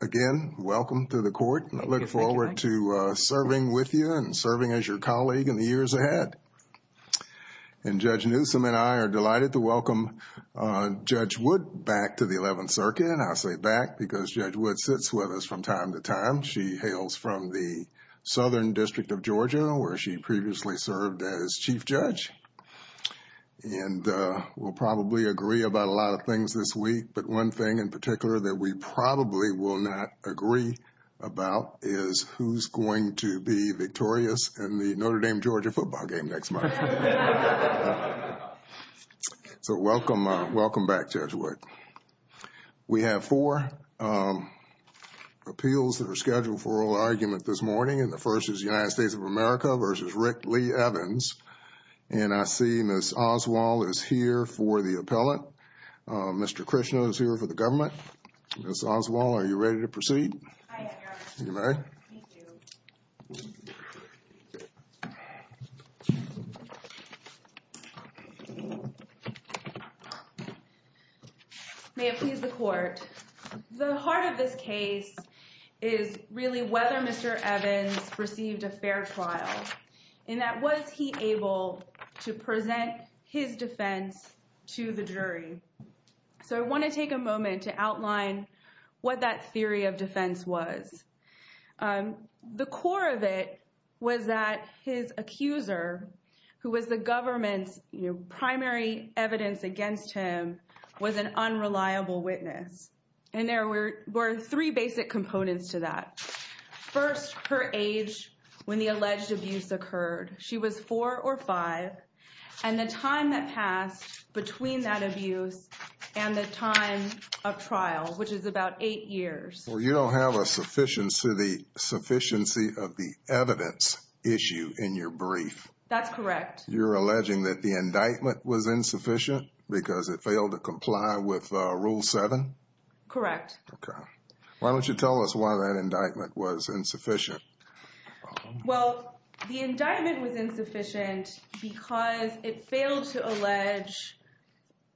Again, welcome to the court, and I look forward to serving with you and serving as your colleague in the years ahead. And Judge Newsom and I are delighted to welcome Judge Wood back to the Eleventh Circuit, and I say back because Judge Wood sits with us from time to time. She hails from the Southern District of Georgia, where she previously served as Chief Judge. And we'll probably agree about a lot of things this week, but one thing in particular that we probably will not agree about is who's going to be victorious in the Notre Dame-Georgia football game next month. So welcome back, Judge Wood. We have four appeals that are scheduled for oral argument this morning, and the first is the United States of America v. Rick Lee Evans. And I see Ms. Oswald is here for the appellant. Mr. Christian is here for the government. Ms. Oswald, are you ready to proceed? I am, Your Honor. You may. Thank you. May it please the Court. The heart of this case is really whether Mr. Evans received a fair trial, and that was he able to present his defense to the jury. So I want to take a moment to outline what that theory of defense was. The core of it was that his accuser, who was the government's, you know, primary evidence against him, was an unreliable witness. And there were three basic components to that. First, her age when the alleged abuse occurred. She was four or five. And the time that passed between that abuse and the time of trial, which is about eight years. Well, you don't have a sufficiency of the evidence issue in your brief. That's correct. You're alleging that the indictment was insufficient because it failed to comply with Rule 7? Correct. Okay. Why don't you tell us why that indictment was insufficient? Well, the indictment was insufficient because it failed to allege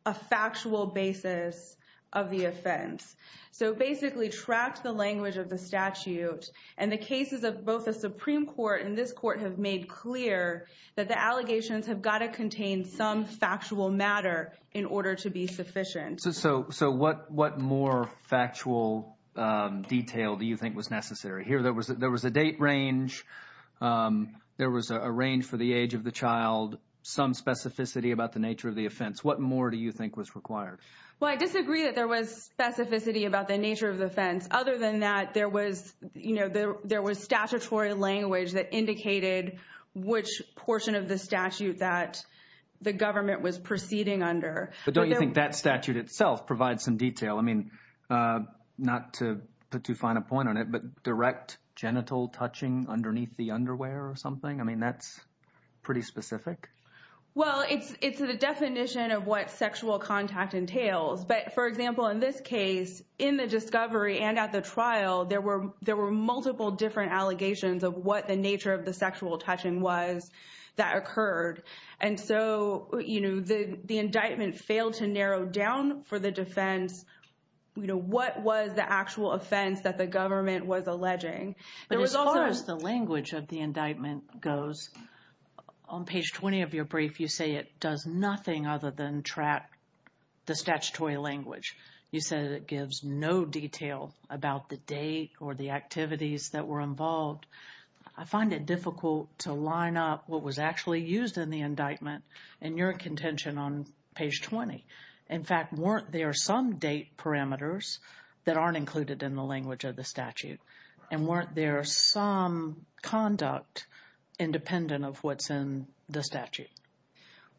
a factual basis of the offense. So it basically tracked the language of the statute. And the cases of both the Supreme Court and this Court have made clear that the allegations have got to contain some factual matter in order to be sufficient. So what more factual detail do you think was necessary? Here, there was a date range. There was a range for the age of the child, some specificity about the nature of the offense. What more do you think was required? Well, I disagree that there was specificity about the nature of the offense. Other than that, there was statutory language that indicated which portion of the statute that the government was proceeding under. But don't you think that statute itself provides some detail? I mean, not to put too fine a point on it, but direct genital touching underneath the underwear or something? I mean, that's pretty specific. Well, it's the definition of what sexual contact entails. But, for example, in this case, in the discovery and at the trial, there were multiple different allegations of what the nature of the sexual touching was that occurred. And so, you know, the indictment failed to narrow down for the defense, you know, what was the actual offense that the government was alleging. But as far as the language of the indictment goes, on page 20 of your brief, you say it does nothing other than track the statutory language. You said it gives no detail about the date or the activities that were involved. I find it difficult to line up what was actually used in the indictment in your contention on page 20. In fact, weren't there some date parameters that aren't included in the language of the statute? And weren't there some conduct independent of what's in the statute?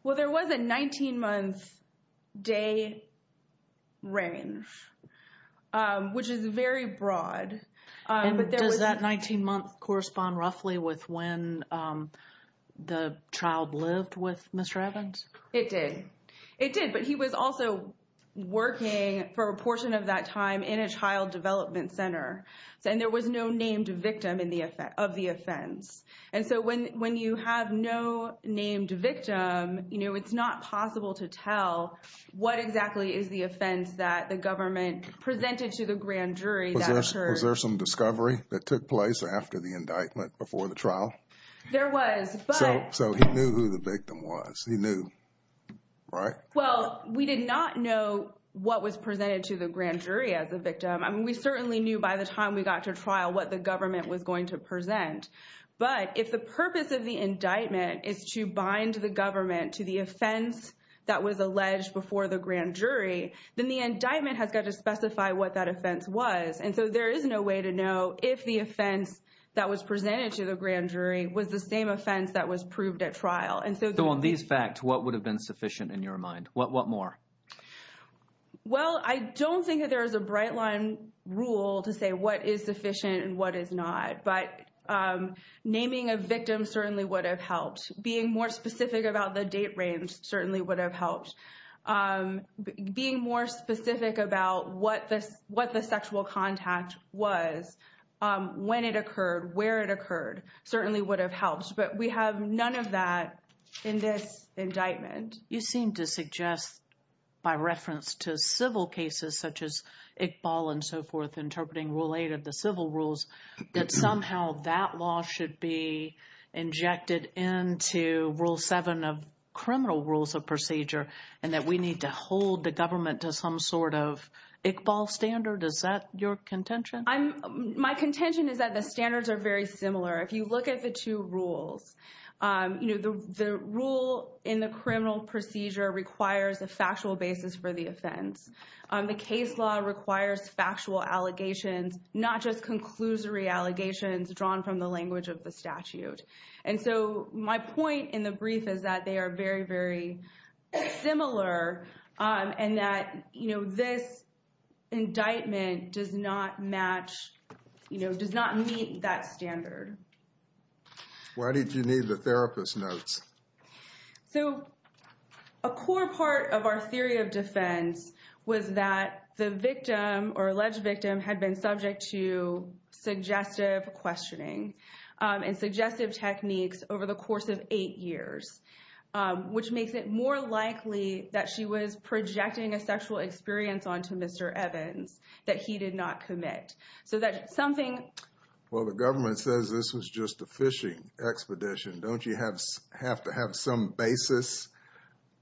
Well, there was a 19-month day range, which is very broad. And does that 19-month correspond roughly with when the child lived with Mr. Evans? It did. It did. But he was also working for a portion of that time in a child development center. And there was no named victim of the offense. And so when you have no named victim, you know, it's not possible to tell what exactly is the offense that the government presented to the grand jury that occurred. Was there some discovery that took place after the indictment before the trial? There was. But... So he knew who the victim was. He knew. Right? Well, we did not know what was presented to the grand jury as a victim. We certainly knew by the time we got to trial what the government was going to present. But if the purpose of the indictment is to bind the government to the offense that was alleged before the grand jury, then the indictment has got to specify what that offense was. And so there is no way to know if the offense that was presented to the grand jury was the same offense that was proved at trial. And so... So on these facts, what would have been sufficient in your mind? What more? Well, I don't think that there is a bright line rule to say what is sufficient and what is not. But naming a victim certainly would have helped. Being more specific about the date range certainly would have helped. Being more specific about what the sexual contact was, when it occurred, where it occurred, certainly would have helped. But we have none of that in this indictment. You seem to suggest, by reference to civil cases such as Iqbal and so forth, interpreting Rule 8 of the civil rules, that somehow that law should be injected into Rule 7 of criminal rules of procedure and that we need to hold the government to some sort of Iqbal standard. Is that your contention? My contention is that the standards are very similar. If you look at the two rules, the rule in the criminal procedure requires a factual basis for the offense. The case law requires factual allegations, not just conclusory allegations drawn from the language of the statute. And so my point in the brief is that they are very, very similar and that this indictment does not match, does not meet that standard. Why did you need the therapist notes? So a core part of our theory of defense was that the victim or alleged victim had been over the course of eight years, which makes it more likely that she was projecting a sexual experience onto Mr. Evans that he did not commit. So that's something... Well, the government says this was just a phishing expedition. Don't you have to have some basis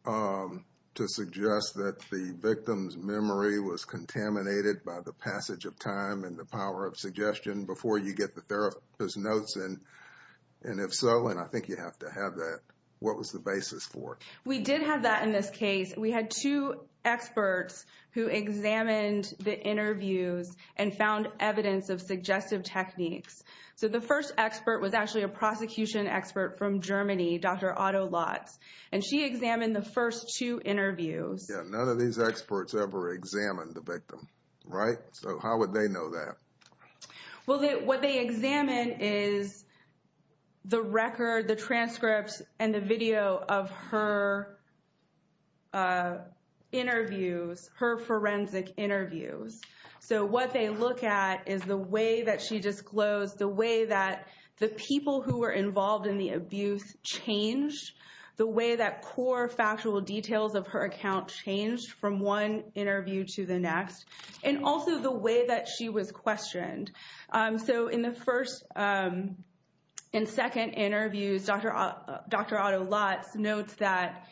to suggest that the victim's memory was contaminated by the passage of time and the power of suggestion before you get the therapist notes? And if so, and I think you have to have that, what was the basis for it? We did have that in this case. We had two experts who examined the interviews and found evidence of suggestive techniques. So the first expert was actually a prosecution expert from Germany, Dr. Otto Lotz, and she examined the first two interviews. Yeah, none of these experts ever examined the victim, right? So how would they know that? Well, what they examine is the record, the transcripts and the video of her interviews, her forensic interviews. So what they look at is the way that she disclosed, the way that the people who were involved in the abuse changed, the way that core factual details of her account changed from one interview to the next, and also the way that she was questioned. So in the first and second interviews, Dr. Otto Lotz notes that,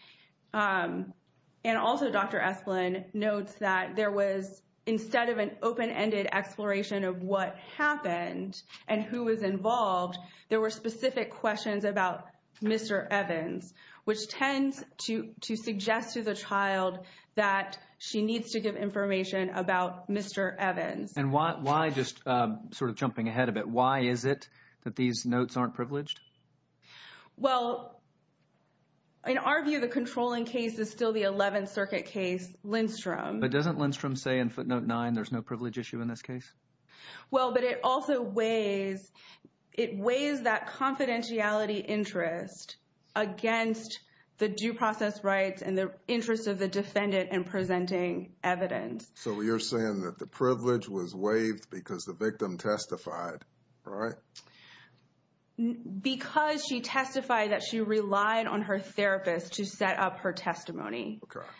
and also Dr. Esplin notes that there was, instead of an open-ended exploration of what happened and who was involved, there were specific questions about Mr. Evans, which tends to suggest to the child that she needs to give information about Mr. Evans. And why, just sort of jumping ahead a bit, why is it that these notes aren't privileged? Well, in our view, the controlling case is still the 11th Circuit case, Lindstrom. But doesn't Lindstrom say in footnote nine, there's no privilege issue in this case? Well, but it also weighs, it weighs that confidentiality interest against the due process rights and the interests of the defendant in presenting evidence. So you're saying that the privilege was waived because the victim testified, right? Because she testified that she relied on her therapist to set up her testimony. Correct.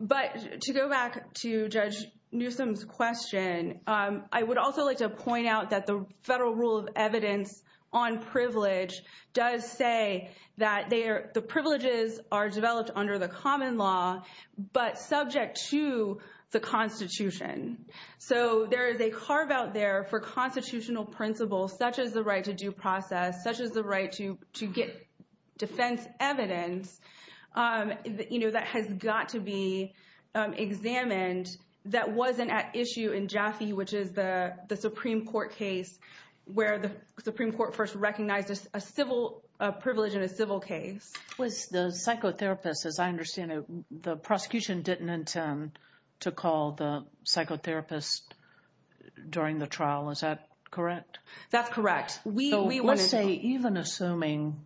But to go back to Judge Newsom's question, I would also like to point out that the federal rule of evidence on privilege does say that the privileges are developed under the common law, but subject to the Constitution. So there is a carve-out there for constitutional principles, such as the right to due process, such as the right to get defense evidence, you know, that has got to be examined. That wasn't at issue in Jaffe, which is the Supreme Court case where the Supreme Court first recognized a civil, a privilege in a civil case. Was the psychotherapist, as I understand it, the prosecution didn't intend to call the psychotherapist during the trial, is that correct? That's correct. So let's say, even assuming,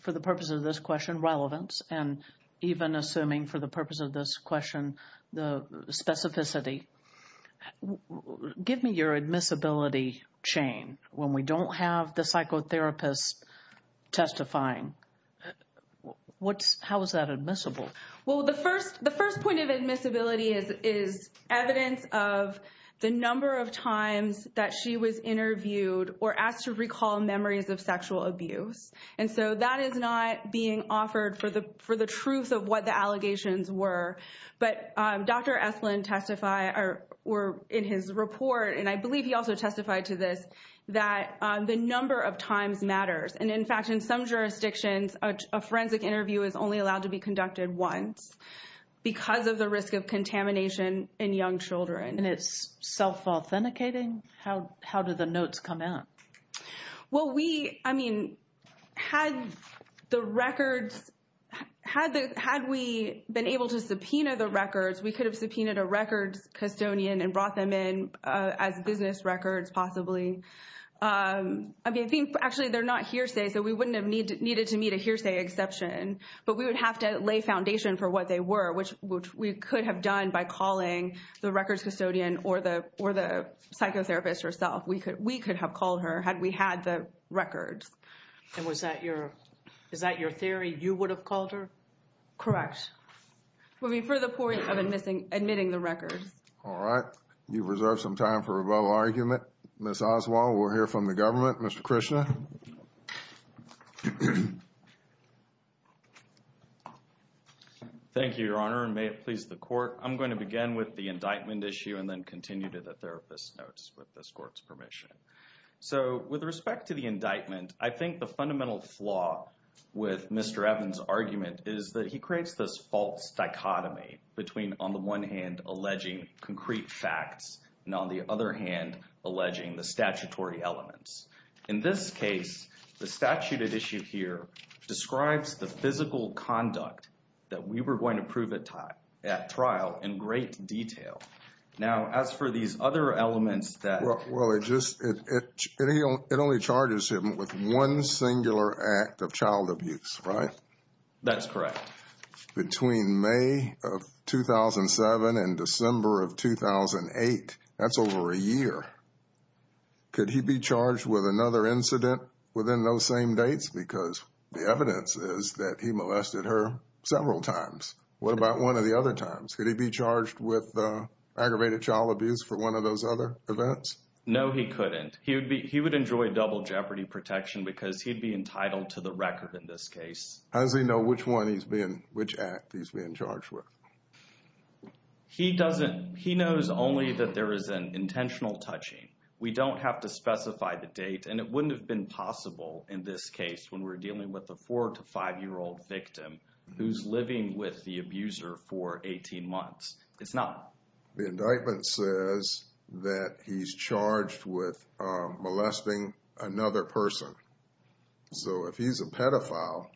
for the purpose of this question, relevance, and even assuming for the purpose of this question, the specificity, give me your admissibility chain. When we don't have the psychotherapist testifying, how is that admissible? Well, the first point of admissibility is evidence of the number of times that she was able to recall memories of sexual abuse. And so that is not being offered for the truth of what the allegations were. But Dr. Esplin testified, or in his report, and I believe he also testified to this, that the number of times matters. And in fact, in some jurisdictions, a forensic interview is only allowed to be conducted once because of the risk of contamination in young children. And it's self-authenticating? How do the notes come out? Well, we, I mean, had the records, had we been able to subpoena the records, we could have subpoenaed a records custodian and brought them in as business records, possibly. I mean, I think, actually, they're not hearsay, so we wouldn't have needed to meet a hearsay exception. But we would have to lay foundation for what they were, which we could have done by calling the records custodian or the psychotherapist herself. We could have called her had we had the records. And was that your, is that your theory, you would have called her? Correct. For the point of admitting the records. All right. You've reserved some time for a verbal argument. Ms. Oswald, we'll hear from the government. Mr. Krishna. Thank you, Your Honor, and may it please the Court. I'm going to begin with the indictment issue and then continue to the therapist notes with this Court's permission. So with respect to the indictment, I think the fundamental flaw with Mr. Evans' argument is that he creates this false dichotomy between, on the one hand, alleging concrete facts and on the other hand, alleging the statutory elements. In this case, the statute at issue here describes the physical conduct that we were going to see in that trial in great detail. Now as for these other elements that... Well, it just, it only charges him with one singular act of child abuse, right? That's correct. Between May of 2007 and December of 2008, that's over a year. Could he be charged with another incident within those same dates? Because the evidence is that he molested her several times. What about one of the other times? Could he be charged with aggravated child abuse for one of those other events? No, he couldn't. He would enjoy double jeopardy protection because he'd be entitled to the record in this case. How does he know which one he's being, which act he's being charged with? He doesn't, he knows only that there is an intentional touching. We don't have to specify the date and it wouldn't have been possible in this case when we're living with the abuser for 18 months. It's not. The indictment says that he's charged with molesting another person. So if he's a pedophile,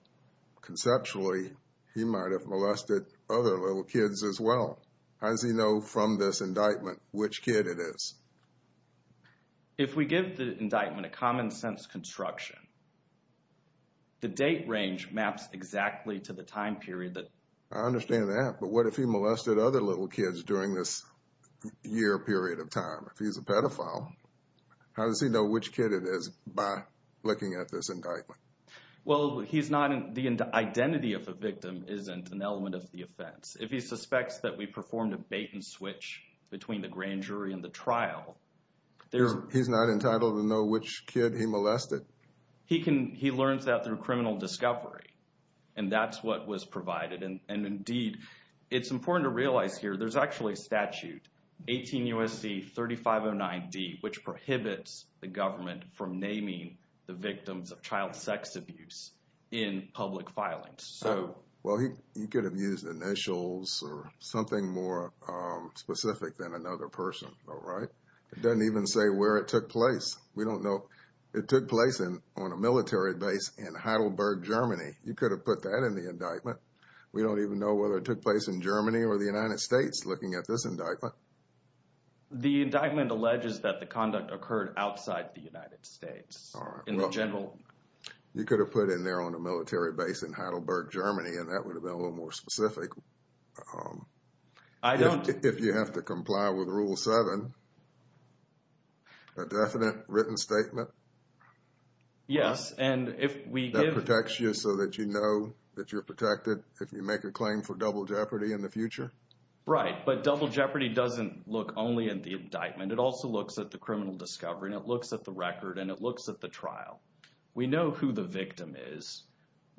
conceptually he might have molested other little kids as well. How does he know from this indictment which kid it is? If we give the indictment a common sense construction, the date range maps exactly to the time period I understand that, but what if he molested other little kids during this year period of time? If he's a pedophile, how does he know which kid it is by looking at this indictment? Well, he's not, the identity of the victim isn't an element of the offense. If he suspects that we performed a bait and switch between the grand jury and the trial. He's not entitled to know which kid he molested? He learns that through criminal discovery and that's what was provided and indeed, it's important to realize here, there's actually a statute, 18 U.S.C. 3509D, which prohibits the government from naming the victims of child sex abuse in public filings. Well, he could have used initials or something more specific than another person, all right? It doesn't even say where it took place. We don't know. It took place on a military base in Heidelberg, Germany. You could have put that in the indictment. We don't even know whether it took place in Germany or the United States looking at this indictment. The indictment alleges that the conduct occurred outside the United States in the general- You could have put in there on a military base in Heidelberg, Germany and that would have been a little more specific. I don't- Written statement? Yes. That protects you so that you know that you're protected if you make a claim for double jeopardy in the future? Right. But double jeopardy doesn't look only at the indictment. It also looks at the criminal discovery and it looks at the record and it looks at the trial. We know who the victim is.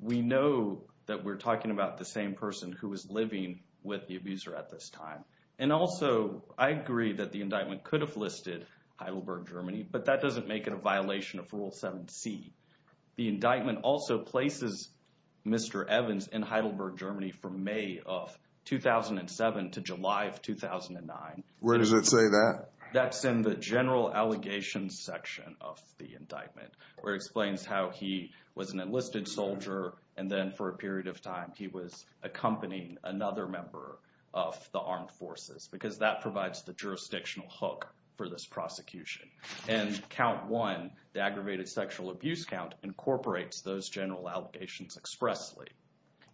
We know that we're talking about the same person who was living with the abuser at this time. And also, I agree that the indictment could have listed Heidelberg, Germany, but that doesn't make it a violation of Rule 7c. The indictment also places Mr. Evans in Heidelberg, Germany from May of 2007 to July of 2009. Where does it say that? That's in the general allegations section of the indictment where it explains how he was an enlisted soldier and then for a period of time he was accompanying another member of the armed forces because that provides the jurisdictional hook for this prosecution. And Count 1, the aggravated sexual abuse count, incorporates those general allegations expressly.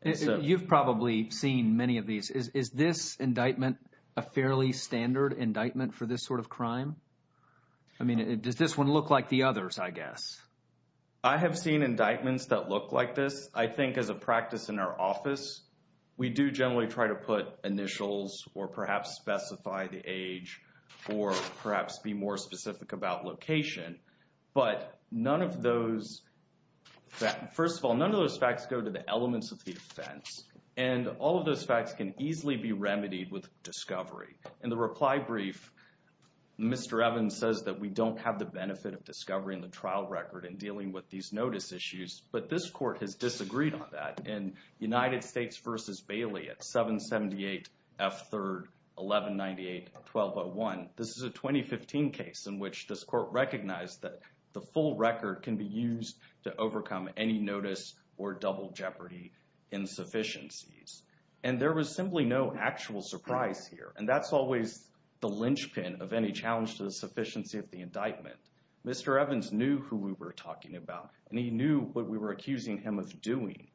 You've probably seen many of these. Is this indictment a fairly standard indictment for this sort of crime? I mean, does this one look like the others, I guess? I have seen indictments that look like this. I think as a practice in our office, we do generally try to put initials or perhaps specify the age or perhaps be more specific about location. But none of those, first of all, none of those facts go to the elements of the offense. And all of those facts can easily be remedied with discovery. In the reply brief, Mr. Evans says that we don't have the benefit of discovering the In United States v. Bailey at 778 F. 3rd 1198 1201, this is a 2015 case in which this court recognized that the full record can be used to overcome any notice or double jeopardy insufficiencies. And there was simply no actual surprise here. And that's always the linchpin of any challenge to the sufficiency of the indictment. Mr. Evans knew who we were talking about, and he knew what we were accusing him of doing.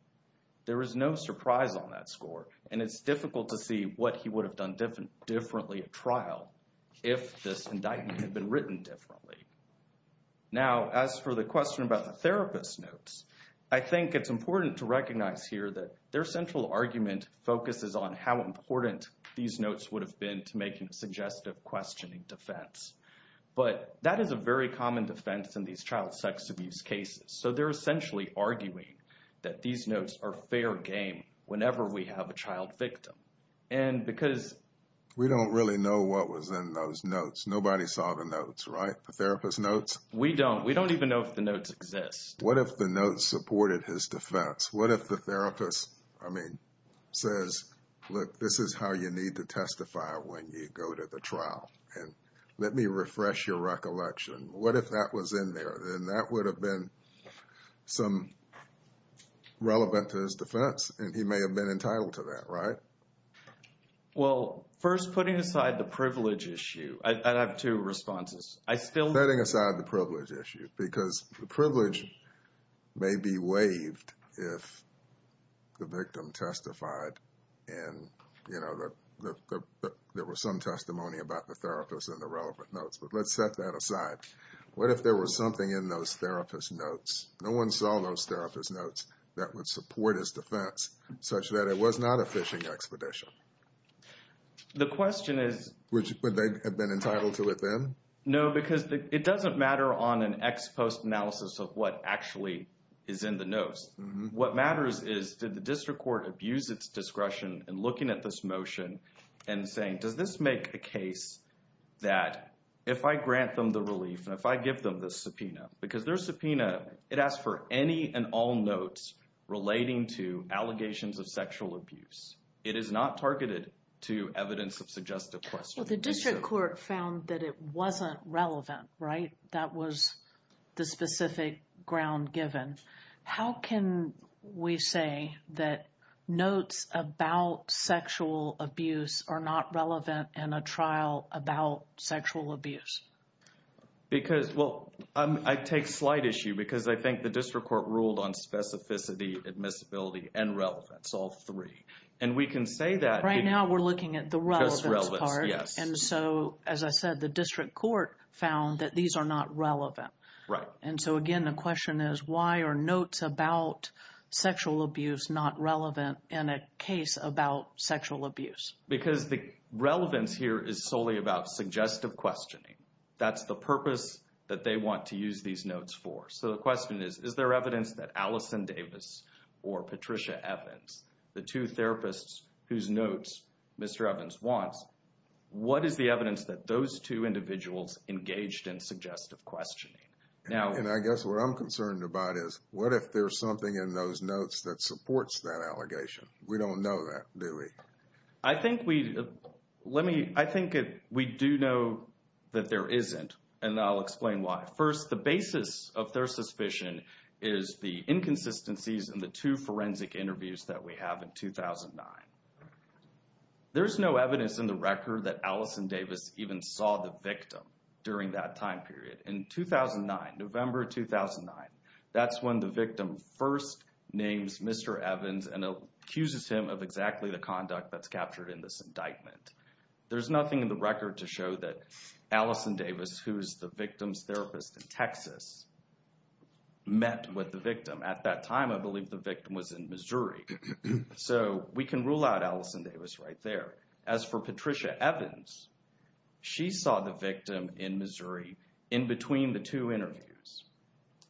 There was no surprise on that score, and it's difficult to see what he would have done differently at trial if this indictment had been written differently. Now as for the question about the therapist notes, I think it's important to recognize here that their central argument focuses on how important these notes would have been to make a suggestive questioning defense. But that is a very common defense in these child sex abuse cases. So they're essentially arguing that these notes are fair game whenever we have a child victim. And because... We don't really know what was in those notes. Nobody saw the notes, right? The therapist notes? We don't. We don't even know if the notes exist. What if the notes supported his defense? What if the therapist, I mean, says, look, this is how you need to testify when you go to the trial. And let me refresh your recollection. What if that was in there? Then that would have been some relevant to his defense, and he may have been entitled to that, right? Well, first putting aside the privilege issue, I'd have two responses. I still... Setting aside the privilege issue, because the privilege may be waived if the victim testified and, you know, there was some testimony about the therapist and the relevant notes. But let's set that aside. What if there was something in those therapist notes? No one saw those therapist notes that would support his defense such that it was not a phishing expedition. The question is... Would they have been entitled to it then? No, because it doesn't matter on an ex post analysis of what actually is in the notes. What matters is, did the district court abuse its discretion in looking at this motion and saying, does this make a case that if I grant them the relief and if I give them the subpoena? Because their subpoena, it asks for any and all notes relating to allegations of sexual abuse. It is not targeted to evidence of suggestive questioning. The district court found that it wasn't relevant, right? That was the specific ground given. How can we say that notes about sexual abuse are not relevant in a trial about sexual abuse? Because... Well, I take slight issue because I think the district court ruled on specificity, admissibility and relevance, all three. And we can say that... Right now, we're looking at the relevance part. And so, as I said, the district court found that these are not relevant. And so again, the question is, why are notes about sexual abuse not relevant in a case about sexual abuse? Because the relevance here is solely about suggestive questioning. That's the purpose that they want to use these notes for. So the question is, is there evidence that Allison Davis or Patricia Evans, the two therapists whose notes Mr. Evans wants, what is the evidence that those two individuals engaged in suggestive questioning? Now... And I guess what I'm concerned about is, what if there's something in those notes that supports that allegation? We don't know that, do we? I think we... Let me... I think we do know that there isn't. And I'll explain why. First, the basis of their suspicion is the inconsistencies in the two forensic interviews that we have in 2009. There's no evidence in the record that Allison Davis even saw the victim during that time period. In 2009, November 2009, that's when the victim first names Mr. Evans and accuses him of exactly the conduct that's captured in this indictment. There's nothing in the record to show that Allison Davis, who is the victim's therapist in Texas, met with the victim. At that time, I believe the victim was in Missouri. So we can rule out Allison Davis right there. As for Patricia Evans, she saw the victim in Missouri in between the two interviews.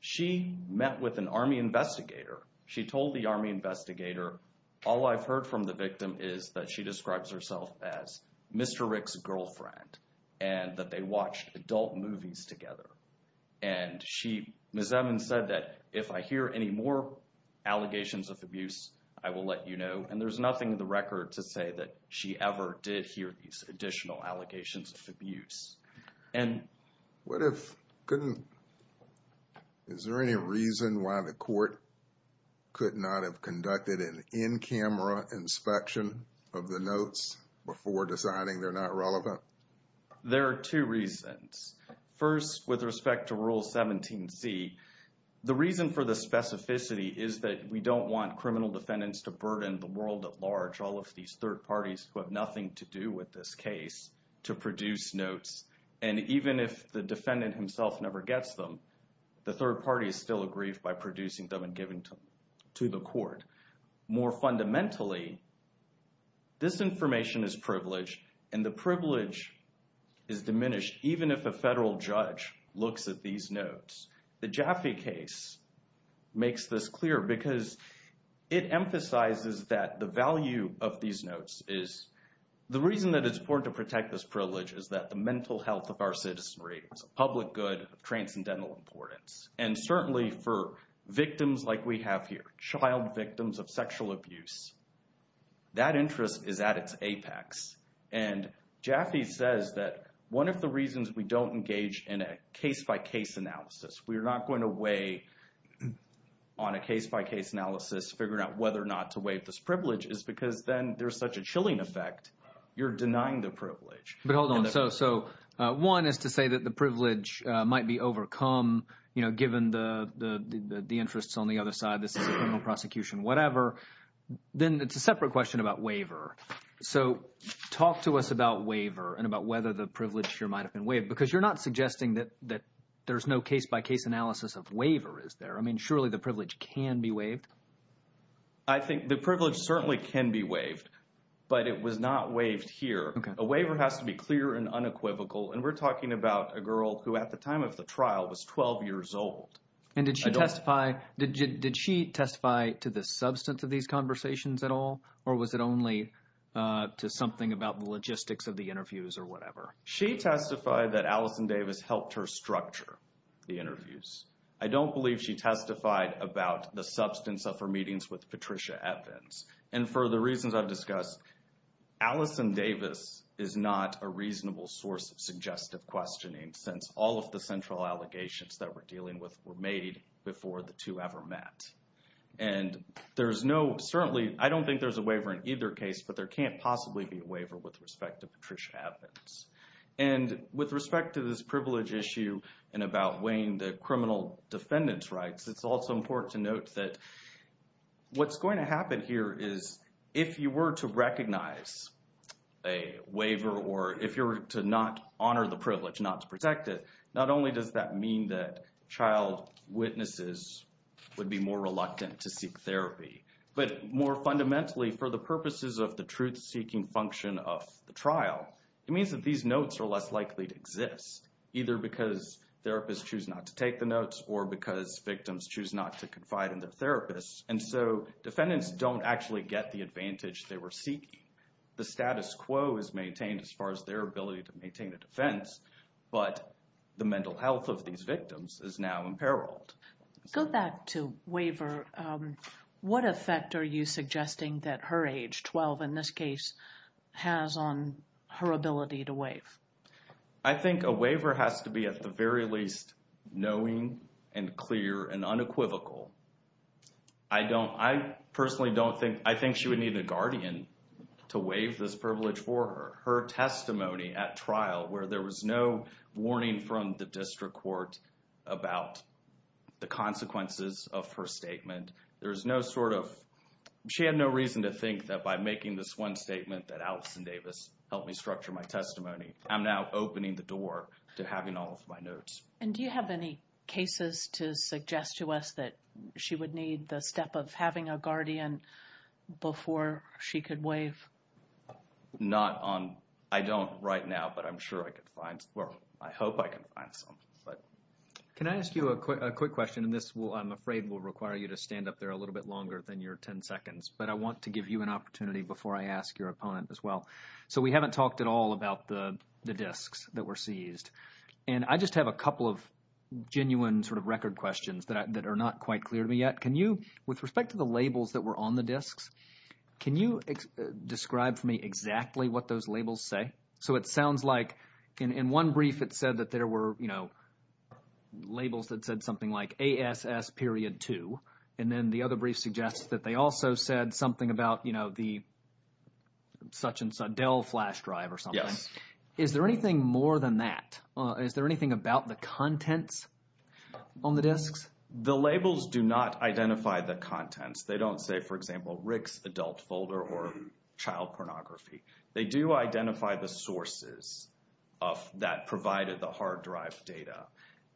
She met with an Army investigator. She told the Army investigator, all I've heard from the victim is that she describes herself as Mr. Rick's girlfriend and that they watched adult movies together. And she... Ms. Evans said that, if I hear any more allegations of abuse, I will let you know. And there's nothing in the record to say that she ever did hear these additional allegations of abuse. And... What if... Couldn't... Is there any reason why the court could not have conducted an in-camera inspection of the notes before deciding they're not relevant? There are two reasons. First, with respect to Rule 17C, the reason for the specificity is that we don't want the world at large, all of these third parties who have nothing to do with this case, to produce notes. And even if the defendant himself never gets them, the third party is still aggrieved by producing them and giving them to the court. More fundamentally, this information is privileged, and the privilege is diminished even if a federal judge looks at these notes. The Jaffe case makes this clear because it emphasizes that the value of these notes is... The reason that it's important to protect this privilege is that the mental health of our citizenry is a public good of transcendental importance. And certainly for victims like we have here, child victims of sexual abuse, that interest is at its apex. And Jaffe says that one of the reasons we don't engage in a case-by-case analysis, we're not going to weigh on a case-by-case analysis, figuring out whether or not to waive this privilege, is because then there's such a chilling effect. You're denying the privilege. But hold on. So one is to say that the privilege might be overcome, you know, given the interests on the other side, this is a criminal prosecution, whatever. Then it's a separate question about waiver. So talk to us about waiver and about whether the privilege here might have been waived. Because you're not suggesting that there's no case-by-case analysis of waiver, is there? I mean, surely the privilege can be waived? I think the privilege certainly can be waived, but it was not waived here. A waiver has to be clear and unequivocal. And we're talking about a girl who at the time of the trial was 12 years old. And did she testify to the substance of these conversations at all? Or was it only to something about the logistics of the interviews or whatever? She testified that Allison Davis helped her structure the interviews. I don't believe she testified about the substance of her meetings with Patricia Evans. And for the reasons I've discussed, Allison Davis is not a reasonable source of suggestive questioning since all of the central allegations that we're dealing with were made before the two ever met. And there's no, certainly, I don't think there's a waiver in either case, but there can't possibly be a waiver with respect to Patricia Evans. And with respect to this privilege issue and about weighing the criminal defendant's rights, it's also important to note that what's going to happen here is if you were to recognize a waiver or if you were to not honor the privilege, not to protect it, not only does that mean that child witnesses would be more reluctant to seek therapy, but more fundamentally, for the purposes of the truth-seeking function of the trial, it means that these notes are less likely to exist, either because therapists choose not to take the notes or because victims choose not to confide in their therapists. And so defendants don't actually get the advantage they were seeking. The status quo is maintained as far as their ability to maintain a defense, but the mental health of these victims is now imperiled. Go back to waiver. What effect are you suggesting that her age, 12 in this case, has on her ability to waive? I think a waiver has to be, at the very least, knowing and clear and unequivocal. I don't, I personally don't think, I think she would need a guardian to waive this privilege for her. Her testimony at trial, where there was no warning from the district court about the consequences of her statement, there's no sort of, she had no reason to think that by making this one statement that Allison Davis helped me structure my testimony, I'm now opening the door to having all of my notes. And do you have any cases to suggest to us that she would need the step of having a guardian before she could waive? Not on, I don't right now, but I'm sure I could find, well, I hope I can find some. Can I ask you a quick question, and this will, I'm afraid, will require you to stand up there a little bit longer than your 10 seconds, but I want to give you an opportunity before I ask your opponent as well. So we haven't talked at all about the disks that were seized, and I just have a couple of genuine sort of record questions that are not quite clear to me yet. Can you, with respect to the labels that were on the disks, can you describe for me exactly what those labels say? So it sounds like, in one brief it said that there were, you know, labels that said something like ASS.2, and then the other brief suggests that they also said something about, you know, the such and such, Dell flash drive or something. Is there anything more than that? Is there anything about the contents on the disks? The labels do not identify the contents. They don't say, for example, Rick's adult folder or child pornography. They do identify the sources of that provided the hard drive data,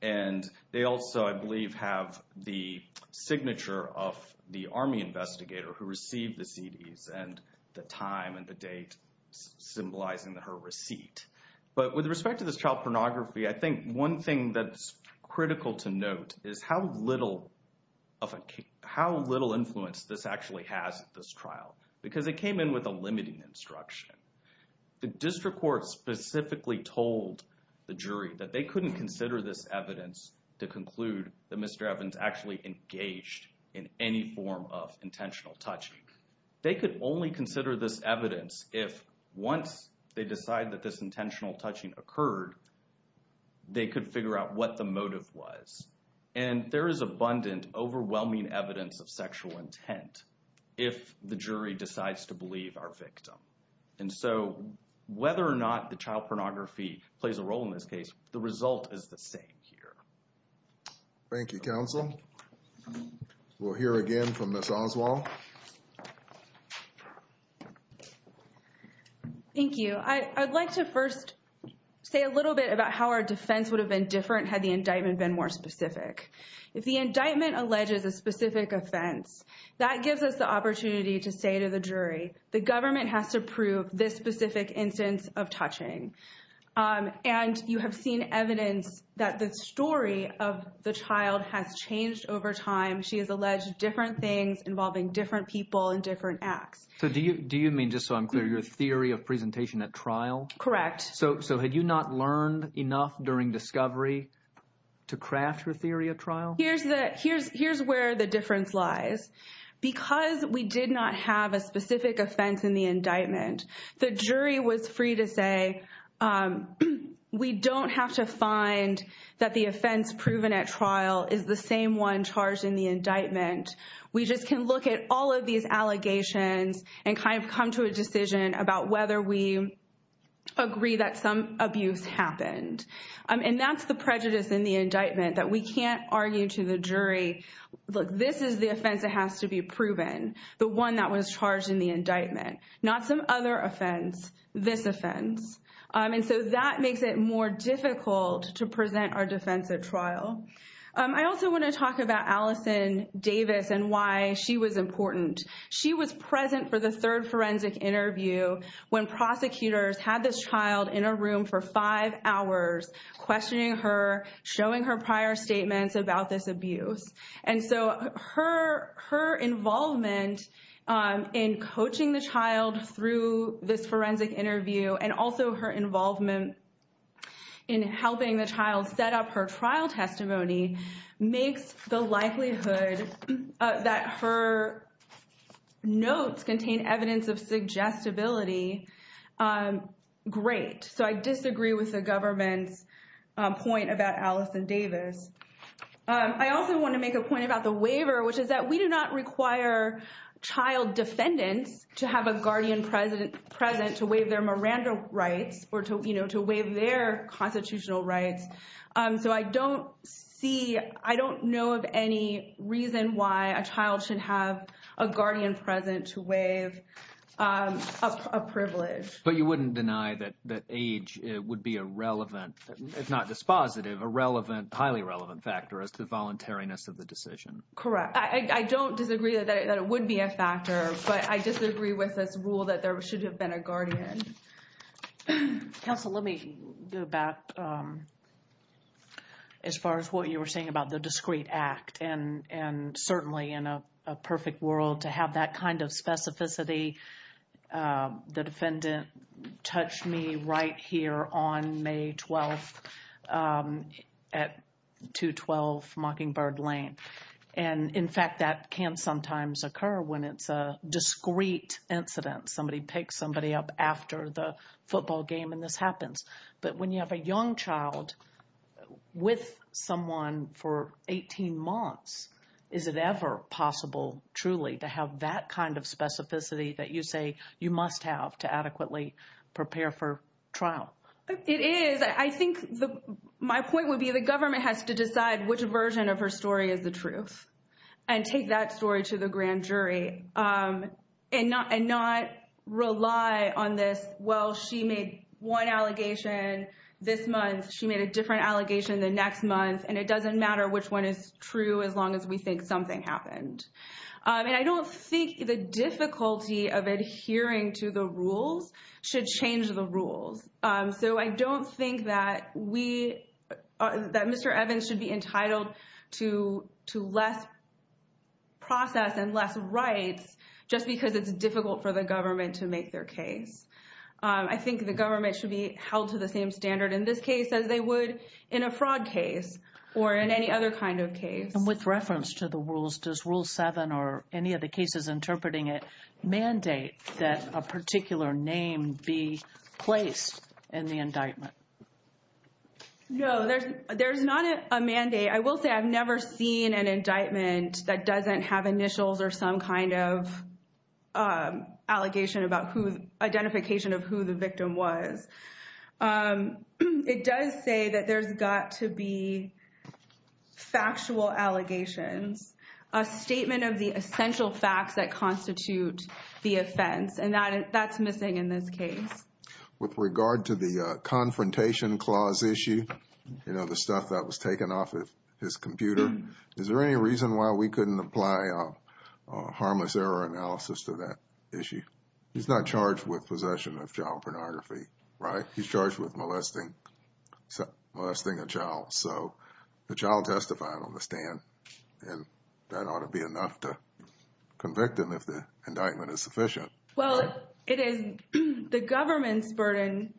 and they also, I believe, have the signature of the Army investigator who received the CDs and the time and the date symbolizing her receipt. But with respect to this child pornography, I think one thing that's critical to note is how little influence this actually has at this trial, because it came in with a limiting instruction. The district court specifically told the jury that they couldn't consider this evidence to conclude that Mr. Evans actually engaged in any form of intentional touching. They could only consider this evidence if, once they decide that this intentional touching occurred, they could figure out what the motive was. And there is abundant, overwhelming evidence of sexual intent if the jury decides to believe our victim. And so, whether or not the child pornography plays a role in this case, the result is the same here. Thank you, counsel. We'll hear again from Ms. Oswald. Thank you. I'd like to first say a little bit about how our defense would have been different had the indictment been more specific. If the indictment alleges a specific offense, that gives us the opportunity to say to the jury, the government has to prove this specific instance of touching. And you have seen evidence that the story of the child has changed over time. She has alleged different things involving different people and different acts. Do you mean, just so I'm clear, your theory of presentation at trial? Correct. So, had you not learned enough during discovery to craft your theory at trial? Here's where the difference lies. Because we did not have a specific offense in the indictment, the jury was free to say, we don't have to find that the offense proven at trial is the same one charged in the indictment. We just can look at all of these allegations and kind of come to a decision about whether we agree that some abuse happened. And that's the prejudice in the indictment, that we can't argue to the jury, look, this is the offense that has to be proven, the one that was charged in the indictment, not some other offense, this offense. And so that makes it more difficult to present our defense at trial. I also want to talk about Allison Davis and why she was important. She was present for the third forensic interview when prosecutors had this child in a room for five hours questioning her, showing her prior statements about this abuse. And so her involvement in coaching the child through this forensic interview and also her trial testimony makes the likelihood that her notes contain evidence of suggestibility great. So I disagree with the government's point about Allison Davis. I also want to make a point about the waiver, which is that we do not require child defendants to have a guardian present to waive their Miranda rights or to waive their constitutional rights. So I don't see, I don't know of any reason why a child should have a guardian present to waive a privilege. But you wouldn't deny that age would be a relevant, if not dispositive, a relevant, highly relevant factor as to the voluntariness of the decision. Correct. I don't disagree that it would be a factor, but I disagree with this rule that there should have been a guardian. Counsel, let me go back as far as what you were saying about the discreet act. And certainly in a perfect world to have that kind of specificity, the defendant touched me right here on May 12th at 212 Mockingbird Lane. And in fact, that can sometimes occur when it's a discreet incident. Somebody picks somebody up after the football game and this happens. But when you have a young child with someone for 18 months, is it ever possible, truly, to have that kind of specificity that you say you must have to adequately prepare for trial? It is. I think my point would be the government has to decide which version of her story is the I rely on this, well, she made one allegation this month, she made a different allegation the next month, and it doesn't matter which one is true as long as we think something happened. And I don't think the difficulty of adhering to the rules should change the rules. So I don't think that we, that Mr. Evans should be entitled to less process and less rights just because it's difficult for the government to make their case. I think the government should be held to the same standard in this case as they would in a fraud case or in any other kind of case. With reference to the rules, does Rule 7 or any of the cases interpreting it mandate that a particular name be placed in the indictment? No, there's not a mandate. I will say I've never seen an indictment that doesn't have initials or some kind of allegation about who, identification of who the victim was. It does say that there's got to be factual allegations, a statement of the essential facts that constitute the offense, and that's missing in this case. With regard to the confrontation clause issue, you know, the stuff that was taken off of his computer, is there any reason why we couldn't apply a harmless error analysis to that issue? He's not charged with possession of child pornography, right? He's charged with molesting, molesting a child. So the child testified on the stand and that ought to be enough to convict him if the indictment is sufficient. Well, it is the government's burden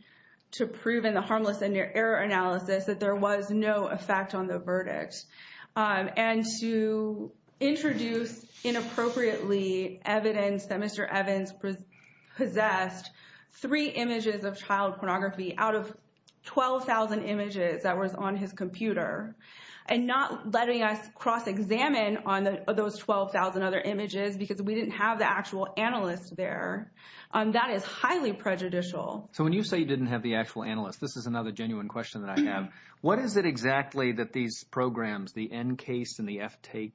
to prove in the harmless error analysis that there was no effect on the verdict. And to introduce inappropriately evidence that Mr. Evans possessed three images of child pornography out of 12,000 images that was on his computer, and not letting us cross-examine on those 12,000 other images because we didn't have the actual analyst there, that is highly prejudicial. So when you say you didn't have the actual analyst, this is another genuine question that I have. What is it exactly that these programs, the NCASE and the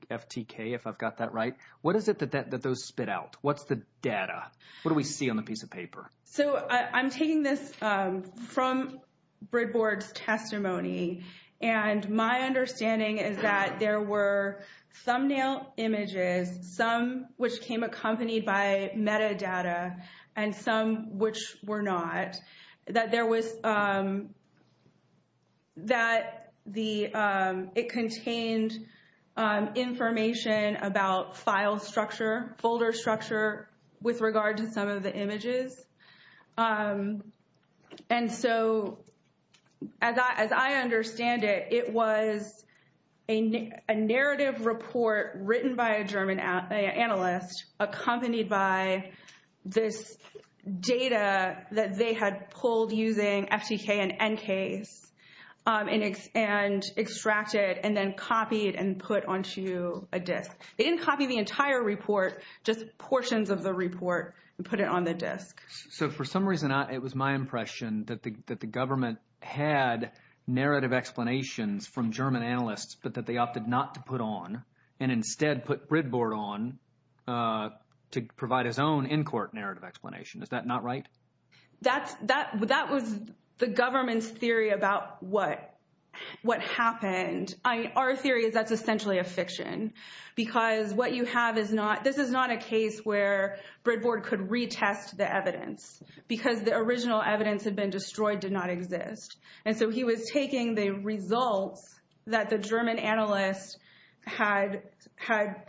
FTK, if I've got that right, what is it that those spit out? What's the data? What do we see on the piece of paper? So I'm taking this from Brid Board's testimony. And my understanding is that there were thumbnail images, some which came accompanied by metadata and some which were not, that it contained information about file structure, folder structure with regard to some of the images. And so as I understand it, it was a narrative report written by a German analyst accompanied by this data that they had pulled using FTK and NCASE and extracted and then copied and put onto a disk. They didn't copy the entire report, just portions of the report and put it on the disk. So for some reason, it was my impression that the government had narrative explanations from German analysts, but that they opted not to put on and instead put Brid Board on to provide his own in-court narrative explanation. Is that not right? That was the government's theory about what happened. Our theory is that's essentially a fiction because what you have is not, this is not a case where Brid Board could retest the evidence because the original evidence had been destroyed did not exist. And so he was taking the results that the German analyst had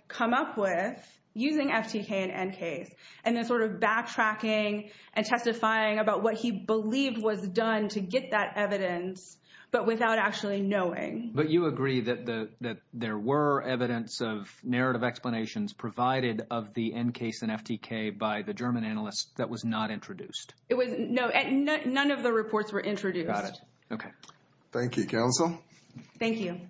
come up with using FTK and NCASE and then sort of backtracking and testifying about what he believed was done to get that evidence, but without actually knowing. But you agree that there were evidence of narrative explanations provided of the NCASE and FTK by the German analyst that was not introduced? It was, no, none of the reports were introduced. Got it. Okay. Thank you, counsel. Thank you.